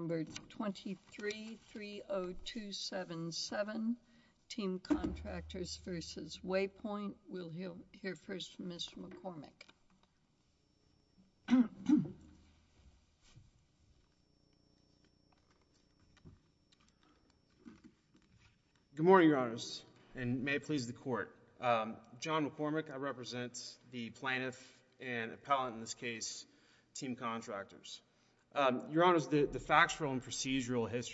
Number 2330277, Team Contractors v. Waypoint. We'll hear first from Mr. McCormick. Good morning, Your Honors, and may it please the Court. John McCormick, I represent the procedural history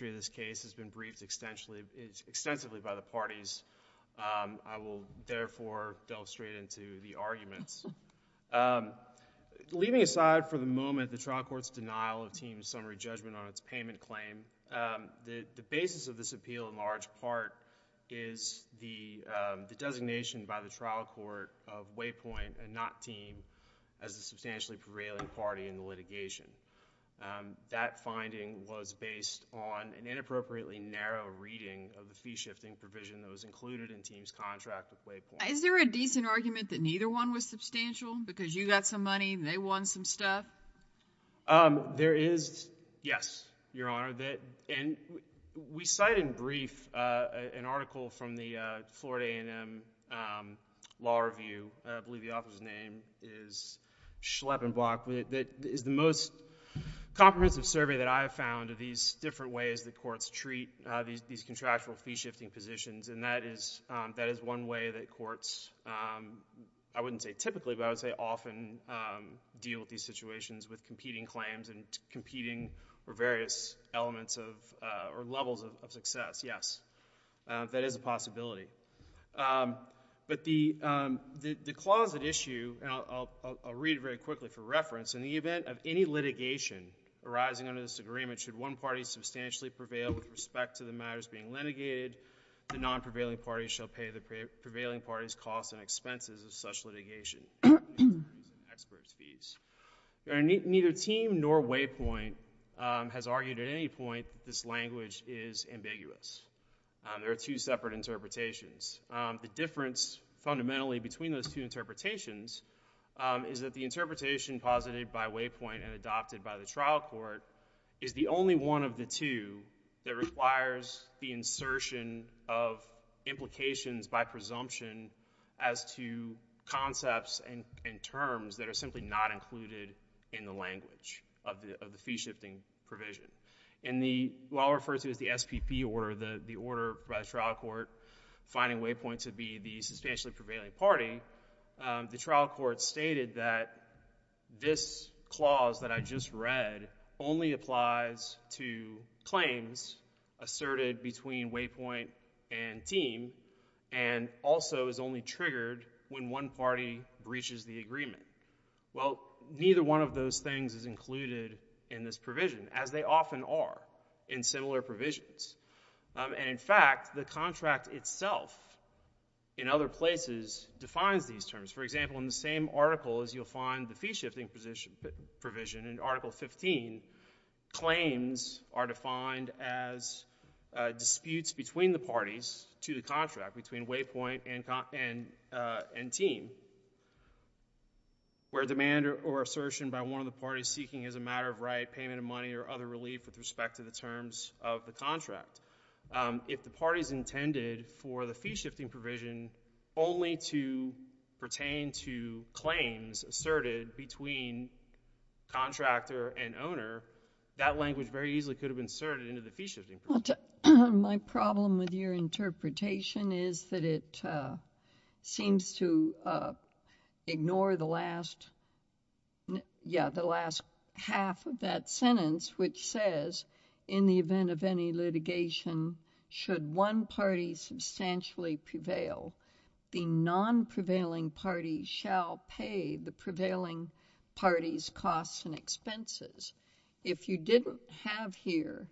of this case has been briefed extensively by the parties. I will therefore delve straight into the arguments. Leaving aside for the moment the trial court's denial of Team's summary judgment on its payment claim, the basis of this appeal in large part is the designation by the trial court of Waypoint and not Team as a substantially prevailing party in the litigation. That finding was based on an inappropriately narrow reading of the fee-shifting provision that was included in Team's contract with Waypoint. Is there a decent argument that neither one was substantial because you got some money, they won some stuff? There is, yes, Your Honor, and we cite in brief an article from the Florida A&M Law Review, I believe the author's name is Schleppenbach, that is the most comprehensive survey that I have found of these different ways that courts treat these contractual fee-shifting positions, and that is one way that courts, I wouldn't say typically, but I would say often deal with these situations with competing claims and competing or various elements or levels of success, yes, that is a possibility. But the clause at issue, and I'll read it very quickly for reference, in the event of any litigation arising under this agreement, should one party substantially prevail with respect to the matters being litigated, the non-prevailing party shall pay the prevailing party's costs and expenses of such litigation in terms of expert fees. Neither team nor Waypoint has argued at any point that this language is ambiguous. There are two separate interpretations. The difference fundamentally between those two interpretations is that the interpretation posited by Waypoint and adopted by the trial court is the only one of the two that requires the insertion of implications by presumption as to concepts and terms that are simply not included in the language of the fee-shifting provision. In the, what I'll refer to as the SPP order, the order by the trial court finding Waypoint to be the substantially prevailing party, the trial court stated that this clause that I just read only applies to claims asserted between Waypoint and team and also is only triggered when one party breaches the agreement. Well, neither one of those things is included in this provision, as they often are in similar provisions. And in fact, the contract itself in other places defines these terms. For example, in the same article as you'll find the fee-shifting provision in Article 15, claims are defined as disputes between the parties to the contract, between Waypoint and team, where demand or assertion by one of the parties seeking as a matter of right payment of money or other relief with respect to the terms of the contract. If the parties intended for the fee-shifting provision only to pertain to claims asserted between contractor and owner, that language very easily could have been inserted into the fee-shifting provision. My problem with your interpretation is that it seems to ignore the last, yeah, the last half of that sentence which says, in the event of any litigation, should one party substantially prevail, the non-prevailing party shall pay the prevailing party's costs and expenses. If you didn't have here,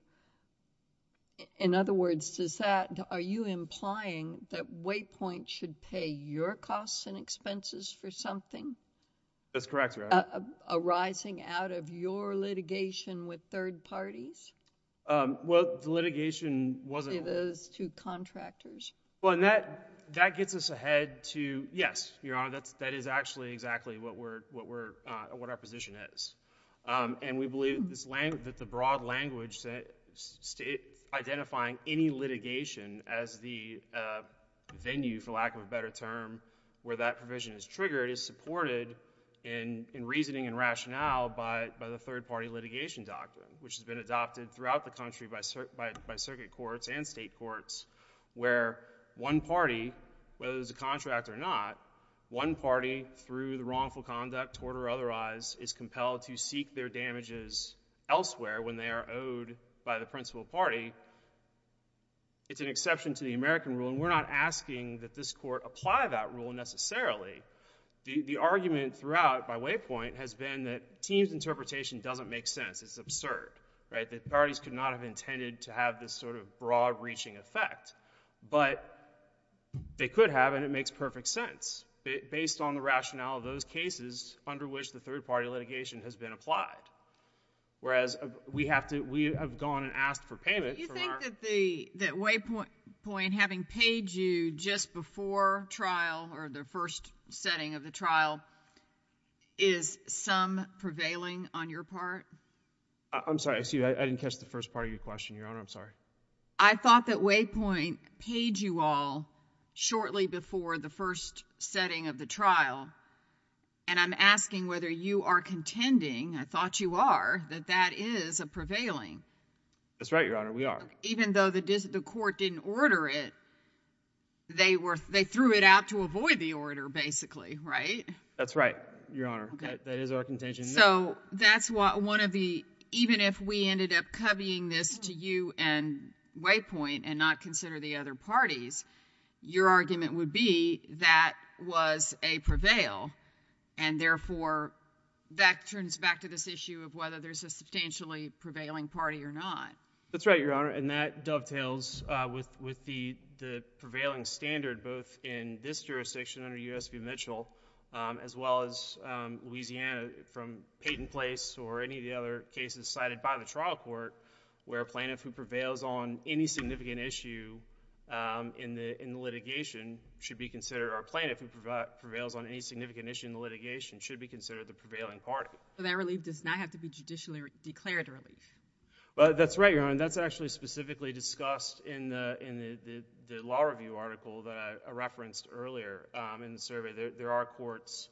in other words, does that, are you implying that Waypoint should pay your costs and expenses for something? That's correct, Your Honor. Arising out of your litigation with third parties? Well, the litigation wasn't... Say those two contractors. Well, and that gets us ahead to, yes, Your Honor, that is actually exactly what our position is. And we believe that the broad language identifying any litigation as the venue, for lack of a better term, where that provision is triggered is supported in reasoning and rationale by the third-party litigation doctrine, which has been adopted throughout the country by circuit courts and state courts, where one party, whether it's a contractor or not, one party is compelled to seek their damages elsewhere when they are owed by the principal party. It's an exception to the American rule, and we're not asking that this court apply that rule necessarily. The argument throughout by Waypoint has been that Teem's interpretation doesn't make sense. It's absurd, right? That parties could not have intended to have this sort of broad-reaching effect. But they could have, and it makes perfect sense based on the rationale of those cases under which the third-party litigation has been applied, whereas we have gone and asked for payment from our... Do you think that Waypoint, having paid you just before trial, or the first setting of the trial, is some prevailing on your part? I'm sorry. I didn't catch the first part of your question, Your Honor. I'm sorry. I thought that Waypoint paid you all shortly before the first setting of the trial, and I'm asking whether you are contending... I thought you are... that that is a prevailing. That's right, Your Honor. We are. Even though the court didn't order it, they threw it out to avoid the order, basically, right? That's right, Your Honor. That is our contention. So that's one of the... even if we ended up covying this to you and Waypoint and not consider the other parties, your argument would be that was a prevail, and therefore, that turns back to this issue of whether there's a substantially prevailing party or not. That's right, Your Honor, and that dovetails with the prevailing standard, both in this jurisdiction under U.S. v. Mitchell, as well as Louisiana, from Peyton Place or any of the other cases cited by the trial court, where a plaintiff who prevails on any significant issue in the litigation should be considered... or a plaintiff who prevails on any significant issue in the litigation should be considered the prevailing party. So that relief does not have to be judicially declared relief? That's right, Your Honor, and that's actually specifically discussed in the law review article that I referenced earlier in the survey. There are courts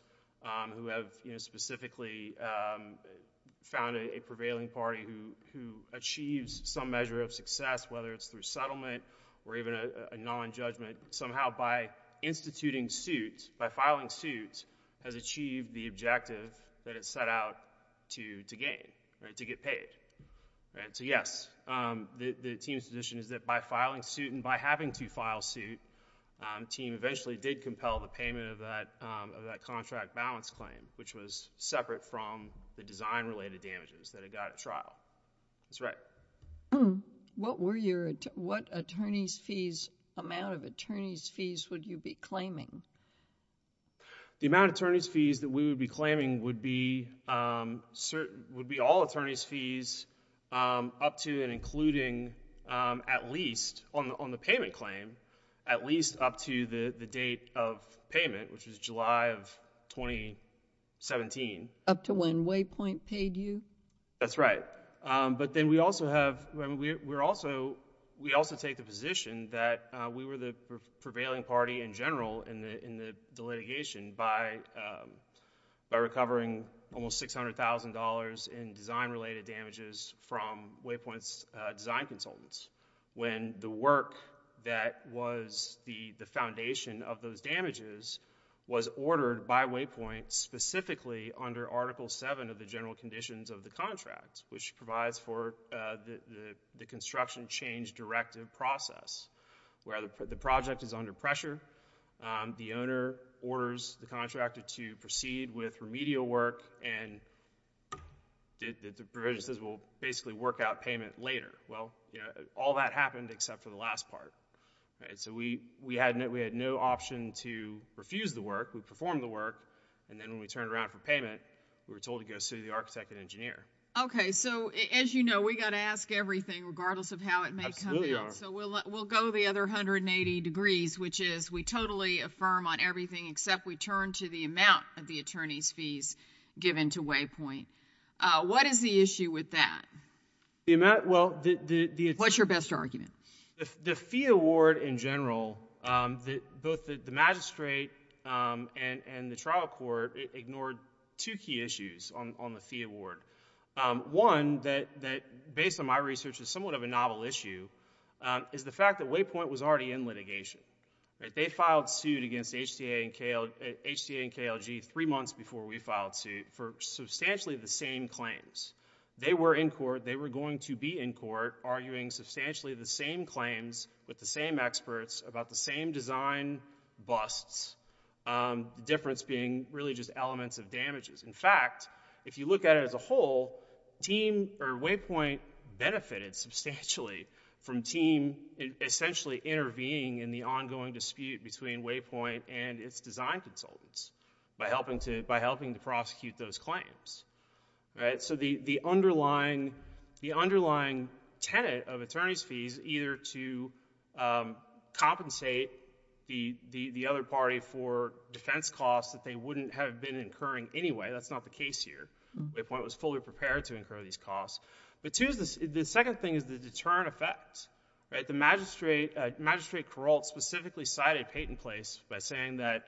who have specifically found a prevailing party who achieves some measure of success, whether it's through settlement or even a nonjudgment, somehow by instituting suits, by filing suits, has achieved the objective that it set out to gain, right, to get paid. So yes, the team's position is that by filing suit and by having to file suit, the team eventually did compel the payment of that contract balance claim, which was separate from the design-related damages that it got at trial. That's right. What were your... what attorneys' fees, amount of attorneys' fees would you be claiming? The amount of attorneys' fees that we would be claiming would be all attorneys' fees up to and including, at least on the payment claim, at least up to the date of payment, which was July of 2017. Up to when Waypoint paid you? That's right. But then we also have... we also take the position that we were the prevailing party in general in the litigation by recovering almost $600,000 in design-related damages from Waypoint's design consultants when the work that was the foundation of those damages was ordered by Waypoint specifically under Article 7 of the general conditions of the contract, which provides for the construction change directive process, where the project is under pressure, the owner orders the contractor to proceed with remedial work, and the provision says we'll basically work out payment later. Well, all that happened except for the last part. So we had no option to refuse the work. We performed the work, and then when we turned around for payment, we were told to go see the architect and engineer. Okay. So as you know, we've got to ask everything regardless of how it may come in. Absolutely. So we'll go the other 180 degrees, which is we totally affirm on everything except we turn to the amount of the attorneys' fees given to Waypoint. What is the issue with that? What's your best argument? The fee award in general, both the magistrate and the trial court ignored two key issues on the fee award. One that, based on my research, is somewhat of a novel issue is the fact that Waypoint was already in litigation. They filed suit against HTA and KLG three months before we filed suit for substantially the same claims. They were in court, they were going to be in court, arguing substantially the same claims with the same experts about the same design busts, the difference being really just elements of damages. In fact, if you look at it as a whole, Waypoint benefited substantially from team essentially intervening in the ongoing dispute between Waypoint and its design consultants by helping to prosecute those claims. The underlying tenet of attorney's fees either to compensate the other party for defense costs that they wouldn't have been incurring anyway, that's not the case here. Waypoint was fully prepared to incur these costs. The second thing is the deterrent effect. The magistrate, Magistrate Kuralt, specifically cited Peyton Place by saying that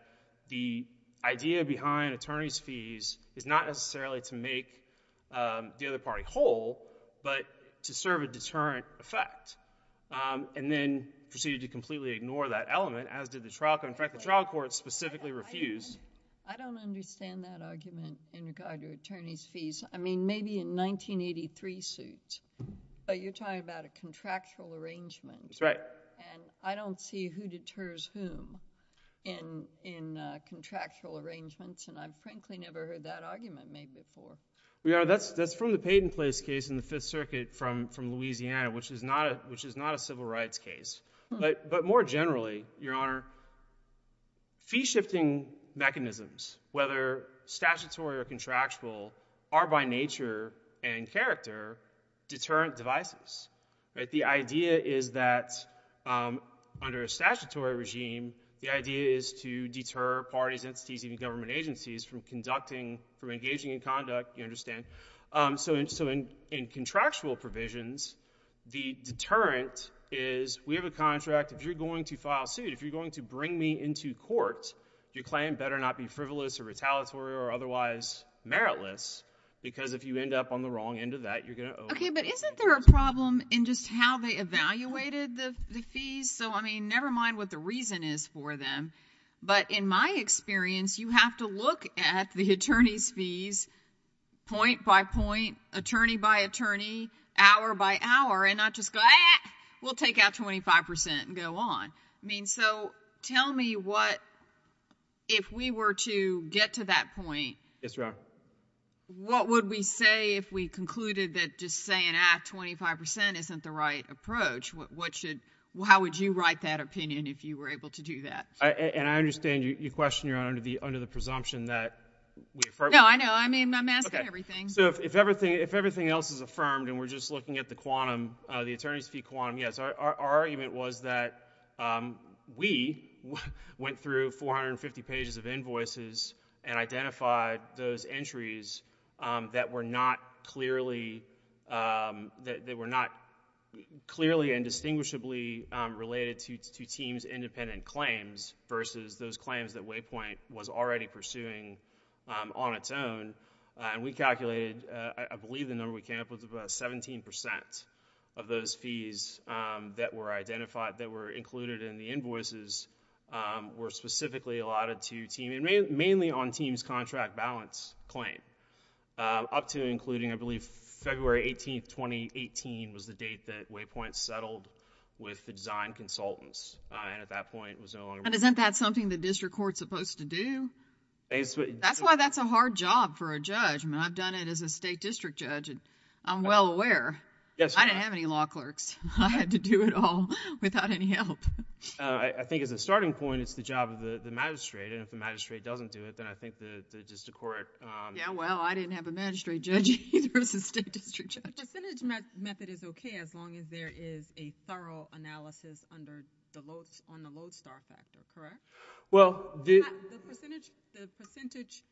the idea behind attorney's fees is not necessarily to make the other party whole, but to serve a deterrent effect, and then proceeded to completely ignore that element, as did the trial court. In fact, the trial court specifically refused... I don't understand that argument in regard to attorney's fees. I mean, maybe in 1983 suit, but you're talking about a contractual arrangement. That's right. And I don't see who deters whom in contractual arrangements, and I've frankly never heard that argument made before. Well, Your Honor, that's from the Peyton Place case in the Fifth Circuit from Louisiana, which is not a civil rights case. But more generally, Your Honor, fee-shifting mechanisms, whether statutory or contractual, are by nature and character deterrent devices. The idea is that under a statutory regime, the idea is to deter parties, entities, even government agencies from engaging in conduct, you understand. So in contractual provisions, the deterrent is, we have a contract, if you're going to file suit, if you're going to bring me into court, your claim better not be frivolous or retaliatory or otherwise meritless, because if you end up on the wrong end of that, you're going to owe... Okay, but isn't there a problem in just how they evaluated the fees? So I mean, never mind what the reason is for them, but in my experience, you have to look at the attorney's fees point by point, attorney by attorney, hour by hour, and not just go, ah, we'll take out 25 percent and go on. I mean, so tell me what, if we were to get to that point... Yes, Your Honor.... what would we say if we concluded that just saying, ah, 25 percent isn't the right approach? What should, how would you write that opinion if you were able to do that? And I understand your question, Your Honor, under the presumption that... No, I know. I mean, I'm asking everything. Okay. So if everything else is affirmed and we're just looking at the quantum, the attorney's fee quantum, yes, our argument was that we went through 450 pages of invoices and identified those entries that were not clearly, that were not clearly and distinguishably related to teams' independent claims versus those claims that Waypoint was already pursuing on its own, and we calculated, I believe the number we came up with was 17 percent of those fees that were identified, that were included in the invoices, were specifically allotted to teams, mainly on teams' contract balance claim, up to and including, I believe, February 18th, 2018 was the date that Waypoint settled with the design consultants, and at that point it was no longer... And isn't that something the district court's supposed to do? That's why that's a hard job for a judge. I mean, I've done it as a state district judge, and I'm well aware. Yes, Your Honor. I didn't have any law clerks. I had to do it all without any help. I think as a starting point, it's the job of the magistrate, and if the magistrate doesn't do it, then I think the district court... Yeah, well, I didn't have a magistrate judge either as a state district judge. The percentage method is okay as long as there is a thorough analysis on the lodestar factor, correct? Well, the... The percentage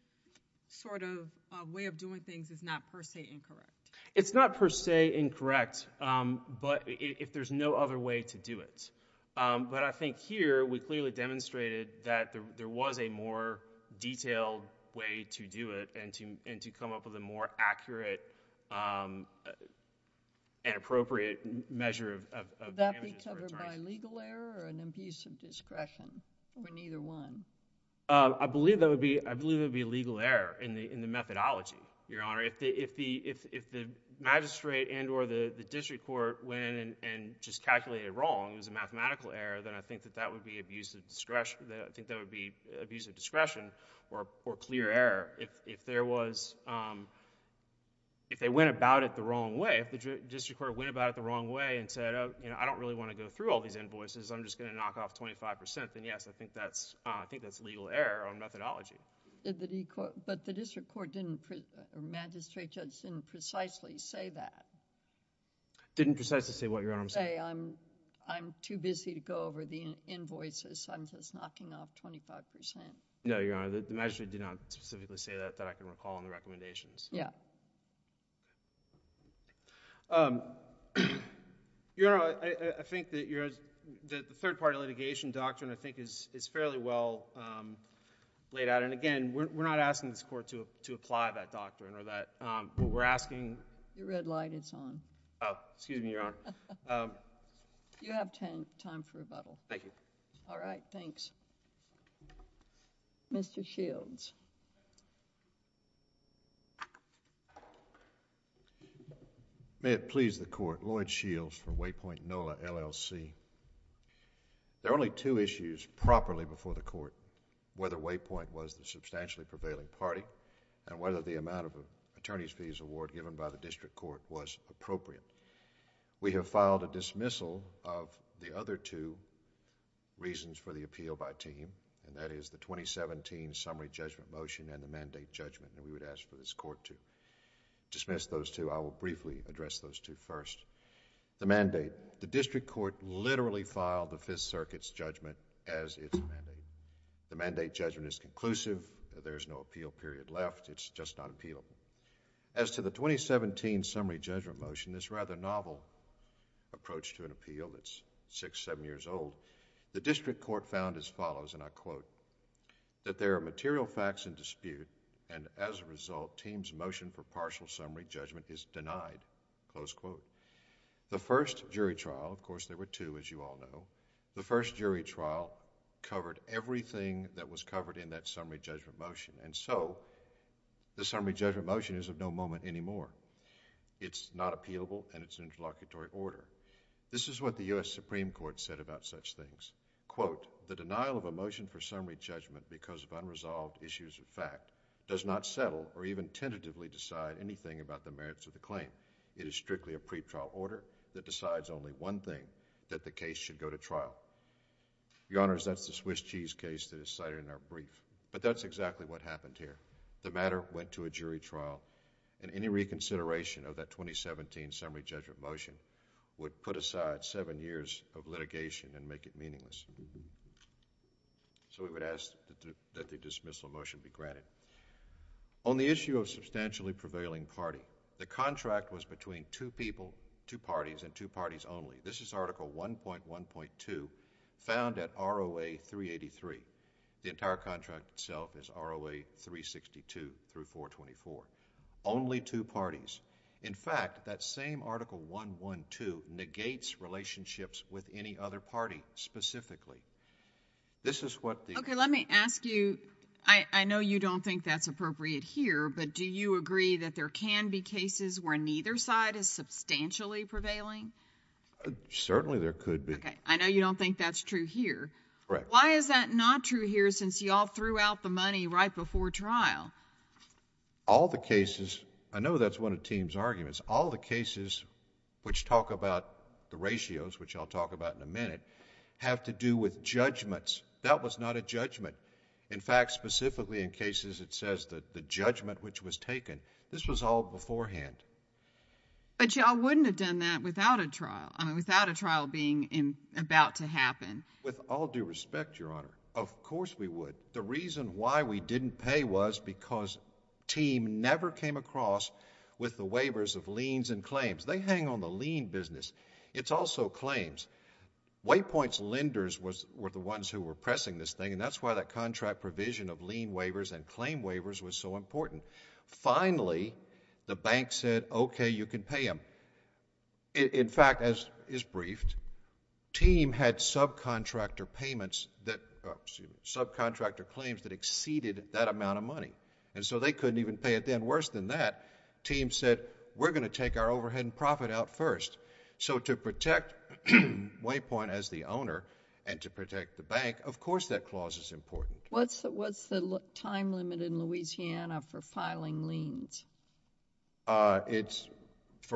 sort of way of doing things is not per se incorrect. It's not per se incorrect, but if there's no other way to do it. But I think here, we clearly demonstrated that there was a more detailed way to do it and to come up with a more accurate and appropriate measure of damages. Would that be covered by legal error or an abuse of discretion for neither one? I believe it would be legal error in the methodology, Your Honor. If the magistrate and or the district court went and just calculated it wrong, it was a mathematical error, then I think that would be abuse of discretion or clear error. If they went about it the wrong way, if the district court went about it the wrong way and said, you know, I don't really want to go through all these invoices. I'm just going to knock off 25%, then yes, I think that's legal error on methodology. But the district court didn't... magistrate just didn't precisely say that. Didn't precisely say what, Your Honor? Say, I'm too busy to go over the invoices. I'm just knocking off 25%. No, Your Honor. The magistrate did not specifically say that, that I can recall in the recommendations. Yeah. Your Honor, I think that the third-party litigation doctrine, I think, is fairly well laid out. Again, we're not asking this Court to apply that doctrine or that... We're asking... Your red light is on. Oh, excuse me, Your Honor. You have time for rebuttal. Thank you. All right, thanks. Mr. Shields. May it please the Court. Lloyd Shields for Waypoint NOLA LLC. There are only two issues properly before the Court. Whether Waypoint was the substantially prevailing party and whether the amount of attorney's fees award given by the district court was appropriate. We have filed a dismissal of the other two reasons for the appeal by team, and that is the 2017 summary judgment motion and the mandate judgment that we would ask for this Court to dismiss those two. I will briefly address those two first. The mandate, the district court literally filed the Fifth Circuit's judgment as its mandate. The mandate judgment is conclusive. There is no appeal period left. It's just on appeal. As to the 2017 summary judgment motion, this rather novel approach to an appeal that's six, seven years old, the district court found as follows, and I quote, that there are material facts in dispute, and as a result, the team's motion for partial summary judgment is denied, close quote. The first jury trial, of course there were two as you all know, the first jury trial covered everything that was covered in that summary judgment motion, and so the summary judgment motion is of no moment anymore. It's not appealable, and it's an interlocutory order. This is what the U.S. Supreme Court said about such things. Quote, the denial of a motion for summary judgment because of unresolved issues of fact does not settle or even tentatively decide anything about the merits of the claim. It is strictly a pretrial order that decides only one thing, that the case should go to trial. Your Honors, that's the Swiss cheese case that is cited in our brief, but that's exactly what happened here. The matter went to a jury trial, and any reconsideration of that 2017 summary judgment motion would put aside seven years of litigation and make it meaningless. So we would ask that the dismissal motion be granted. On the issue of substantially prevailing party, the contract was between two people, two parties, and two parties only. This is Article 1.1.2 found at ROA 383. The entire contract itself is ROA 362 through 424, only two parties. In fact, that same Article 1.1.2 negates relationships with any other party specifically. This is what the... Okay. Let me ask you, I know you don't think that's appropriate here, but do you agree that there can be cases where neither side is substantially prevailing? Certainly, there could be. Okay. I know you don't think that's true here. Correct. Why is that not true here since you all threw out the money right before trial? All the cases, I know that's one of the team's arguments, all the cases which talk about the ratios, which I'll talk about in a minute, have to do with judgments. That was not a judgment. In fact, specifically in cases it says that the judgment which was taken, this was all beforehand. But you all wouldn't have done that without a trial, I mean, without a trial being about to happen. With all due respect, Your Honor, of course we would. The reason why we didn't pay was because team never came across with the waivers of liens and claims. They hang on the lien business. It's also claims. White Point's lenders were the ones who were pressing this thing, and that's why that contract provision of lien waivers and claim waivers was so important. Finally, the bank said, okay, you can pay them. In fact, as is briefed, team had subcontractor claims that exceeded that amount of money, and so they couldn't even pay it then. Even worse than that, team said, we're going to take our overhead and profit out first. So to protect White Point as the owner and to protect the bank, of course that clause is important. What's the time limit in Louisiana for filing liens? For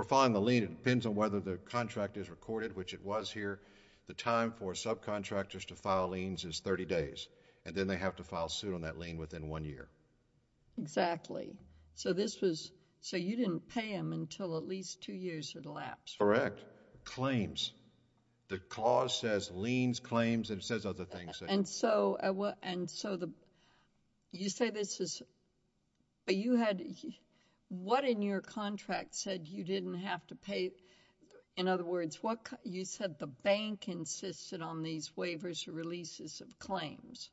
filing the lien, it depends on whether the contract is recorded, which it was here. The time for subcontractors to file liens is 30 days, and then they have to file suit on that lien within one year. Exactly. So you didn't pay them until at least two years had elapsed? Correct. Claims. The clause says liens, claims, and it says other things. And so you say this is... what in your contract said you didn't have to pay? In other words, you said the bank insisted on these waivers or releases of claims.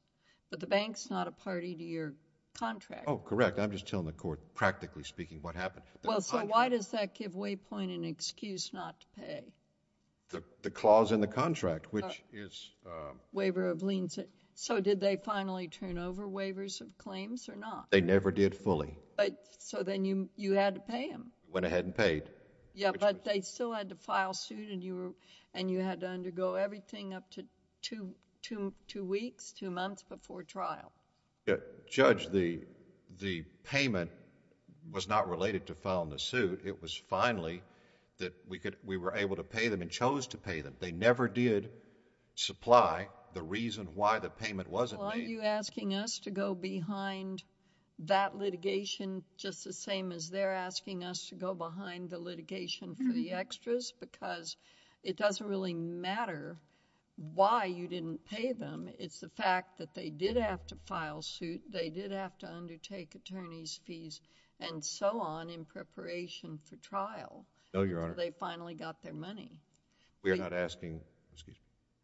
But the bank's not a party to your contract. Oh, correct. I'm just telling the court practically speaking what happened. Well, so why does that give White Point an excuse not to pay? The clause in the contract, which is... Waiver of liens. So did they finally turn over waivers of claims or not? They never did fully. So then you had to pay them? Went ahead and paid. Yeah, but they still had to file suit and you had to undergo everything up to two weeks, two months before trial. Judge, the payment was not related to filing the suit. It was finally that we were able to pay them and chose to pay them. They never did supply the reason why the payment wasn't made. Well, are you asking us to go behind that litigation just the same as they're asking us to go behind the litigation for the extras because it doesn't really matter why you didn't pay them. It's the fact that they did have to file suit. They did have to undertake attorney's fees and so on in preparation for trial. No, Your Honor. So they finally got their money. We are not asking... Excuse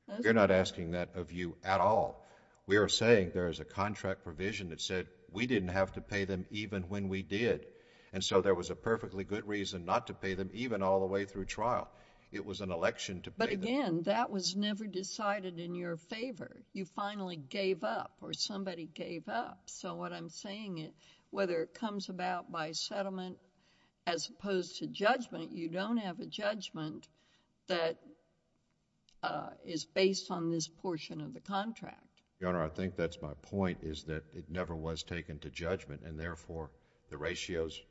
me. You're not asking that of you at all. We are saying there is a contract provision that said we didn't have to pay them even when we did. And so there was a perfectly good reason not to pay them even all the way through trial. It was an election to pay them. But again, that was never decided in your favor. You finally gave up or somebody gave up. So what I'm saying is whether it comes about by settlement as opposed to judgment, you don't have a judgment that is based on this portion of the contract. Your Honor, I think that's my point is that it never was taken to judgment and therefore the ratios...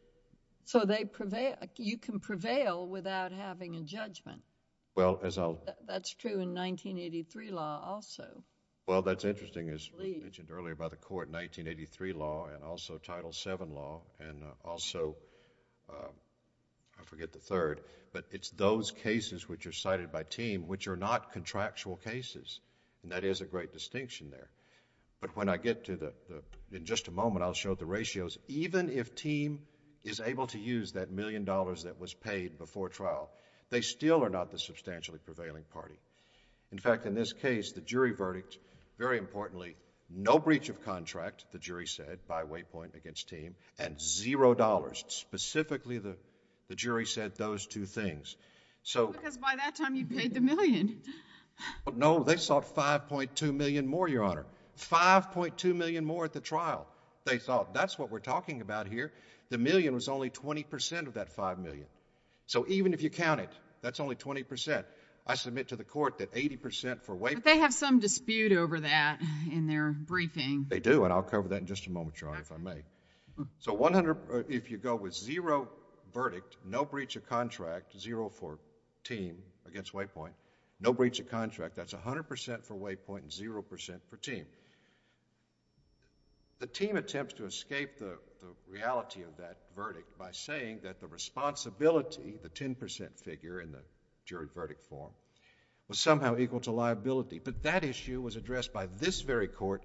You can prevail without having a judgment. Well, as I'll... That's true in 1983 law also. Well, that's interesting. As mentioned earlier by the Court, 1983 law and also Title VII law and also, I forget the third, but it's those cases which are cited by TEAM which are not contractual cases. And that is a great distinction there. But when I get to the... in just a moment, I'll show the ratios. Even if TEAM is able to use that million dollars that was paid before trial, they still are not the substantially prevailing party. In fact, in this case, the jury verdict, very importantly, no breach of contract, the jury said by waypoint against TEAM, and zero dollars. Specifically, the jury said those two things. Because by that time, you paid the million. No, they sought 5.2 million more, Your Honor. 5.2 million more at the trial. They sought. That's what we're talking about here. The million was only 20% of that 5 million. So even if you count it, that's only 20%. I submit to the Court that 80% for waypoint... But they have some dispute over that in their briefing. They do, and I'll cover that in just a moment, Your Honor, if I may. So if you go with zero verdict, no breach of contract, zero for TEAM against waypoint, no breach of contract, that's 100% for waypoint and 0% for TEAM. The TEAM attempts to escape the reality of that verdict by saying that the responsibility, the 10% figure in the jury verdict form, was somehow equal to liability. But that issue was addressed by this very Court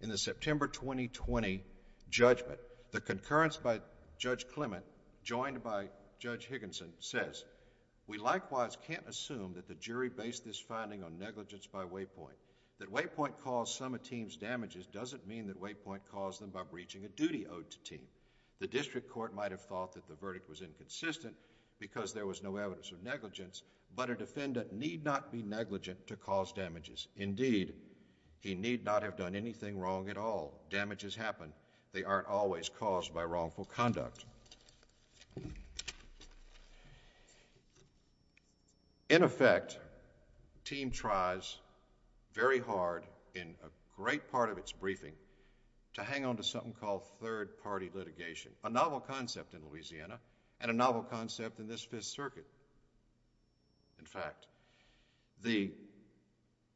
in the September 2020 judgment. The concurrence by Judge Clement, joined by Judge Higginson, says, We likewise can't assume that the jury based this finding on negligence by waypoint. That waypoint caused some of TEAM's damages doesn't mean that waypoint caused them by breaching a duty owed to TEAM. The district court might have thought that the verdict was inconsistent because there was no evidence of negligence, but a defendant need not be negligent to cause damages. Indeed, he need not have done anything wrong at all. Damages happen. They aren't always caused by wrongful conduct. In effect, TEAM tries very hard in a great part of its briefing to hang on to something called third-party litigation, a novel concept in Louisiana and a novel concept in this Fifth Circuit. In fact, the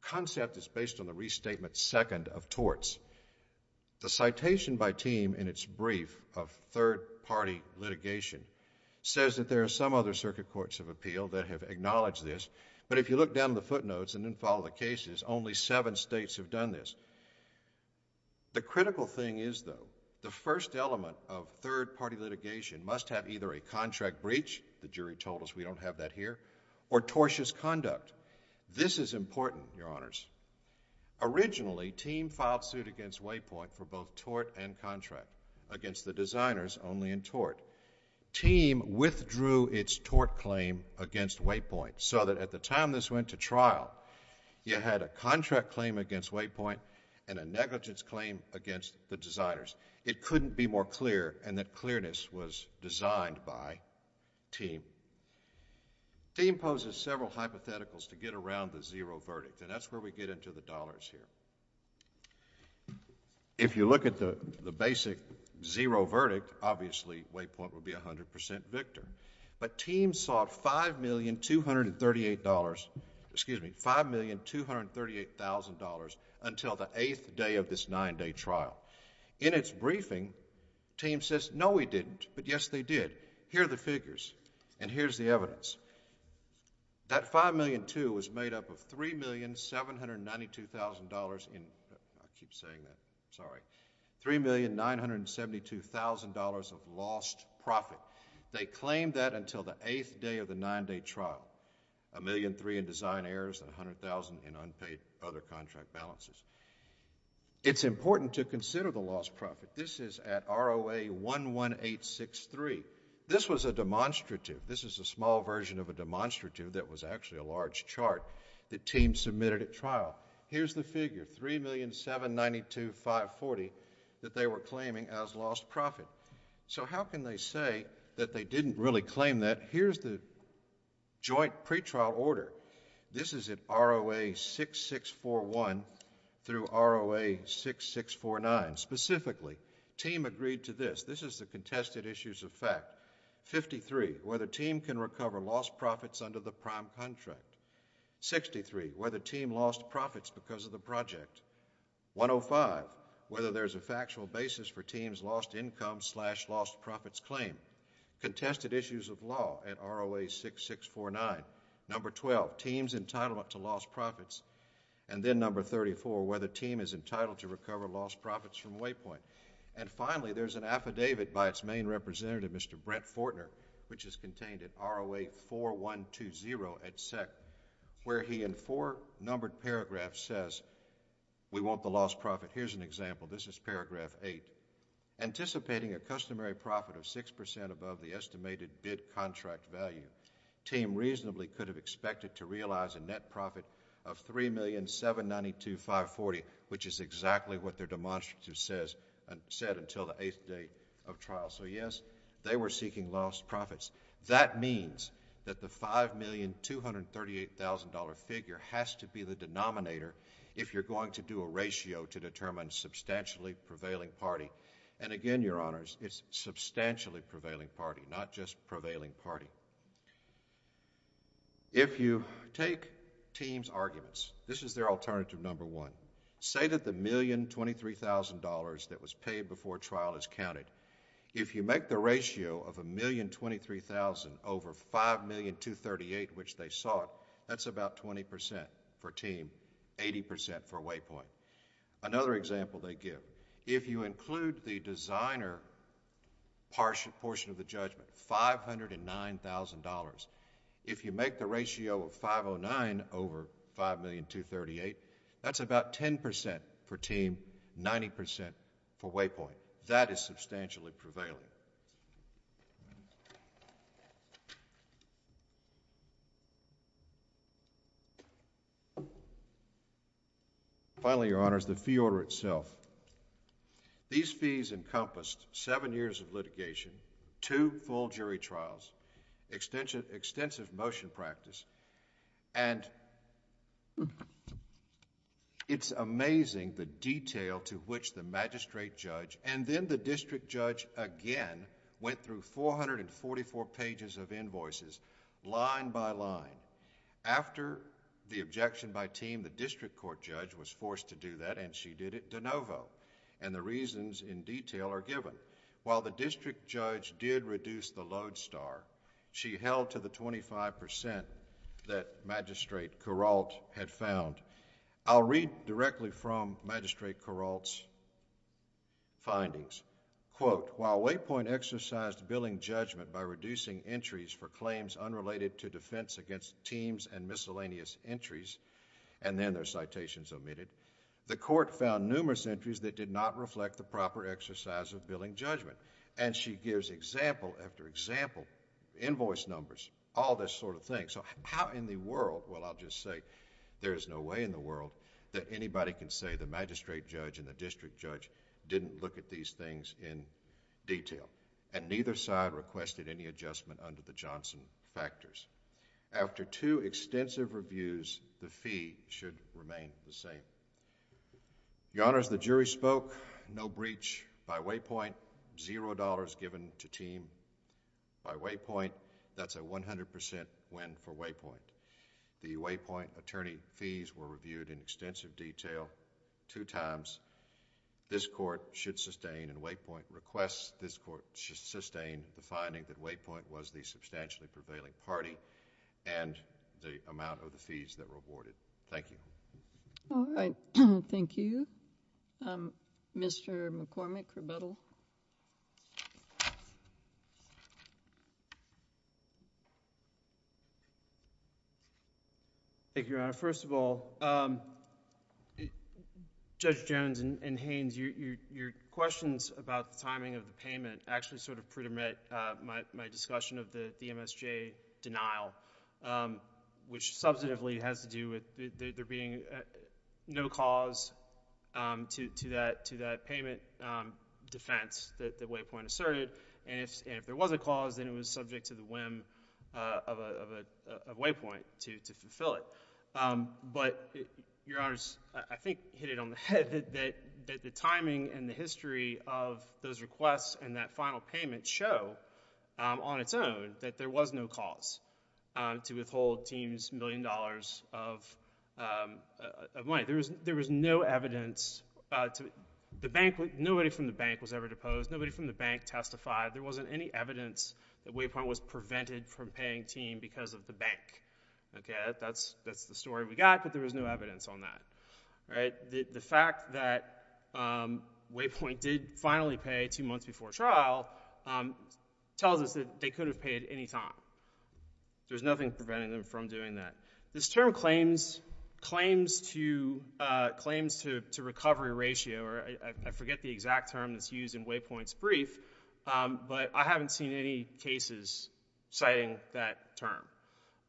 concept is based on the restatement second of torts. The citation by TEAM in its brief of third-party litigation says that there are some other circuit courts of appeal that have acknowledged this, but if you look down the footnotes and then follow the cases, only seven states have done this. The critical thing is, though, the first element of third-party litigation must have either a contract breach, the jury told us we don't have that This is important, Your Honors. Originally, TEAM filed suit against Waypoint for both tort and contract against the designers, only in tort. TEAM withdrew its tort claim against Waypoint so that at the time this went to trial, you had a contract claim against Waypoint and a negligence claim against the designers. It couldn't be more clear, and that clearness was designed by TEAM. TEAM poses several hypotheticals to get around the zero verdict, and that's where we get into the dollars here. If you look at the basic zero verdict, obviously Waypoint would be a 100% victor, but TEAM sought $5,238,000 until the eighth day of this nine-day trial. In its briefing, TEAM says, no, we didn't, but yes, they did. Here are the figures, and here's the evidence. That $5,202,000 was made up of $3,792,000 in... I keep saying that. Sorry. $3,972,000 of lost profit. They claimed that until the eighth day of the nine-day trial, $1,003,000 in design errors, $100,000 in unpaid other contract balances. It's important to consider the lost profit. This is at ROA 11863. This was a demonstrative. This is a small version of a demonstrative that was actually a large chart that TEAM submitted at trial. Here's the figure, $3,792,540 that they were claiming as lost profit. How can they say that they didn't really claim that? Here's the joint pretrial order. This is at ROA 6641 through ROA 6649. Specifically, TEAM agreed to this. This is the contested issues of fact. 53, whether TEAM can recover lost profits under the prime contract. 63, whether TEAM lost profits because of the project. 105, whether there's a factual basis for TEAM's lost income slash lost profits claim. Contested issues of law at ROA 6649. Number 12, TEAM's entitlement to lost profits. Then number 34, whether TEAM is entitled to recover lost profits from Waypoint. Finally, there's an affidavit by its main representative, Mr. Brent Fortner, which is contained at ROA 4120 at SEC, where he in four numbered paragraphs says, we want the lost profit. Here's an example. This is paragraph eight. Anticipating a customary profit of 6% above the estimated bid contract value, TEAM reasonably could have expected to realize a net profit of $3,792,540, which is exactly what their demonstrative says, and said until the eighth day of trial. So yes, they were seeking lost profits. That means that the $5,238,000 figure has to be the denominator if you're going to do a ratio to determine substantially prevailing party. And again, Your Honors, it's substantially prevailing party, not just prevailing party. If you take TEAM's arguments, this is their alternative number one. Say that the $1,023,000 that was paid before trial is counted. If you make the ratio of $1,023,000 over $5,238,000, which they sought, that's about 20% for TEAM, 80% for Waypoint. Another example they give. If you include the designer portion of the judgment, $509,000. If you make the ratio of $509,000 over $5,238,000, that's about 10% for TEAM, 90% for Waypoint. That is substantially prevailing. Finally, Your Honors, the fee order itself. These fees encompassed seven years of litigation, two full jury trials, extensive motion practice, and it's amazing the detail to which the magistrate judge, and then the district judge again, went through 444 pages of invoices, line by line. After the objection by TEAM, the district court judge was forced to do that and she did it de novo. The reasons in detail are given. While the district judge did reduce the load star, she held to the 25% that Magistrate Kuralt had found. I'll read directly from Magistrate Kuralt's findings. Quote, while Waypoint exercised billing judgment by reducing entries for claims unrelated to defense against TEAMs and miscellaneous entries, and then their citations omitted, the court found numerous entries that did not reflect the proper exercise of billing judgment. She gives example after example, invoice numbers, all this sort of thing. How in the world... well, I'll just say there is no way in the world that anybody can say the magistrate judge and the district judge didn't look at these things in detail and neither side requested any adjustment under the Johnson factors. After two extensive reviews, the fee should remain the same. Your Honors, the jury spoke. No breach by Waypoint. Zero dollars given to TEAM by Waypoint. That's a 100% win for Waypoint. The Waypoint attorney fees were reviewed in extensive detail two times. This court should sustain and Waypoint requests this court should sustain the finding that Waypoint was the substantially prevailing party and the amount of the fees that were awarded. Thank you. All right. Thank you. Mr. McCormick, rebuttal. Thank you, Your Honor. First of all, Judge Jones and Haynes, your questions about the timing of the payment actually sort of predomit my discussion of the MSJ denial, which substantively has to do with there being no cause to that payment defense that Waypoint asserted. If there was a cause, then it was subject to the whim of Waypoint to fulfill it. Your Honors, I think hit it on the head that the timing and the history of those requests and that final payment show on its own that there was no cause to withhold Team's million dollars of money. There was no evidence. Nobody from the bank was ever deposed. Nobody from the bank testified. There wasn't any evidence that Waypoint was prevented from paying Team because of the bank. That's the story we got, but there was no evidence on that. The fact that Waypoint did finally pay two months before trial tells us that they could have paid any time. There's nothing preventing them from doing that. This term claims to recovery ratio, or I forget the exact term that's used in Waypoint's brief, but I haven't seen any cases citing that term.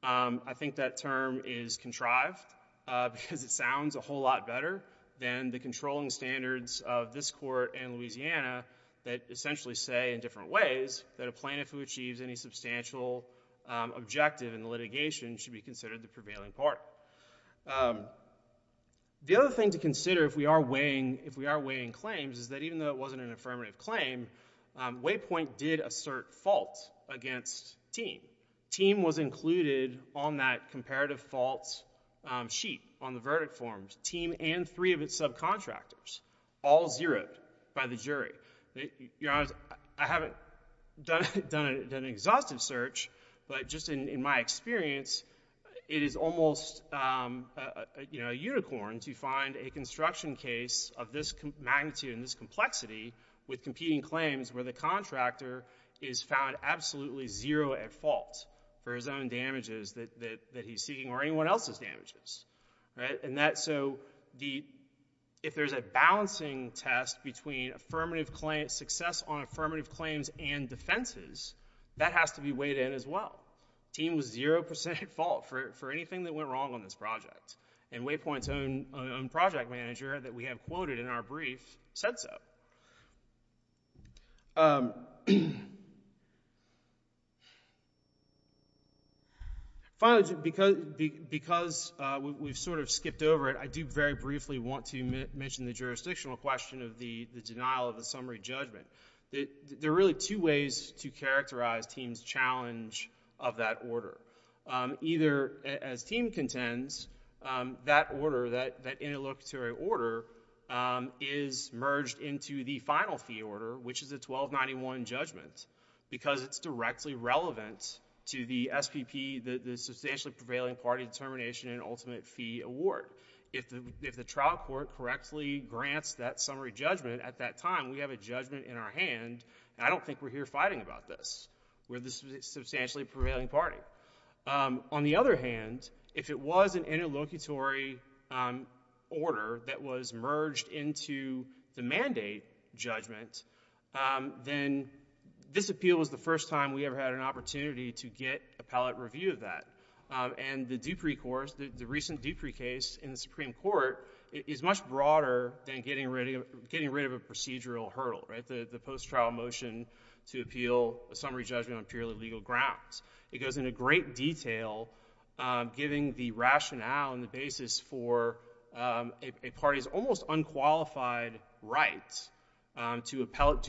I think that term is contrived because it sounds a whole lot better than the controlling standards of this court and Louisiana that essentially say in different ways that a plaintiff who achieves any substantial objective in litigation should be considered the prevailing party. The other thing to consider if we are weighing claims is that even though it wasn't an affirmative claim, Waypoint did assert fault against Team. Team was included on that comparative fault sheet on the verdict forms, Team and three of its subcontractors, all zeroed by the jury. To be honest, I haven't done an exhaustive search, but just in my experience, it is almost a unicorn to find a construction case of this magnitude and this complexity with competing claims where the contractor is found absolutely zero at fault for his own damages that he's seeking or anyone else's damages. If there's a balancing test between success on affirmative claims and defenses, that has to be weighed in as well. Team was zero percent at fault for anything that went wrong on this project, and Waypoint's own project manager that we have quoted in our brief said so. Finally, because we've sort of skipped over it, I do very briefly want to mention the jurisdictional question of the denial of the summary judgment. There are really two ways to characterize Team's challenge of that order. Either, as Team contends, that order, that interlocutory order, is merged into the final fee order, which is a 1291 judgment, because it's directly relevant to the SPP, the Substantially Prevailing Party Determination and Ultimate Fee Award. If the trial court correctly grants that summary judgment at that time, we have a judgment in our hand, and I don't think we're here fighting about this. We're the Substantially Prevailing Party. On the other hand, if it was an interlocutory order that was merged into the mandate judgment, then this appeal was the first time we ever had an opportunity to get appellate review of that. The recent Dupree case in the Supreme Court is much broader than getting rid of a procedural hurdle, the post-trial motion to appeal a summary judgment on purely legal grounds. It goes into great detail, giving the rationale and the basis for a party's almost unqualified right to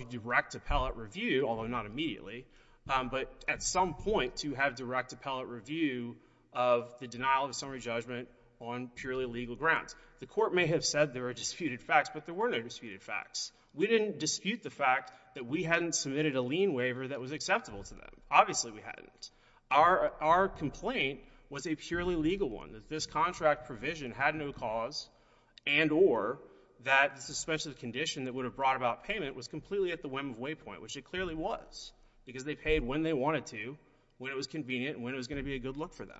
direct appellate review, although not immediately, but at some point, to have direct appellate review of the denial of a summary judgment on purely legal grounds. The court may have said there are disputed facts, but there were no disputed facts. We didn't dispute the fact that we hadn't submitted a lien waiver that was acceptable to them. Obviously, we hadn't. Our complaint was a purely legal one, that this contract provision had no cause and or that the suspension of the condition that would have brought about payment was completely at the whim of Waypoint, which it clearly was, because they paid when they wanted to, when it was convenient, and when it was going to be a good look for them.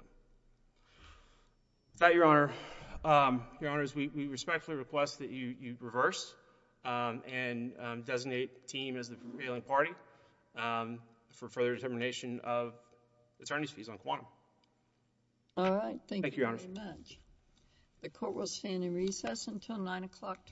With that, Your Honor, we respectfully request that you reverse and designate team as the prevailing party for further determination of attorneys' fees on quantum. All right. Thank you, Your Honor. Thank you very much. The court will stand in recess until 9 o'clock tomorrow.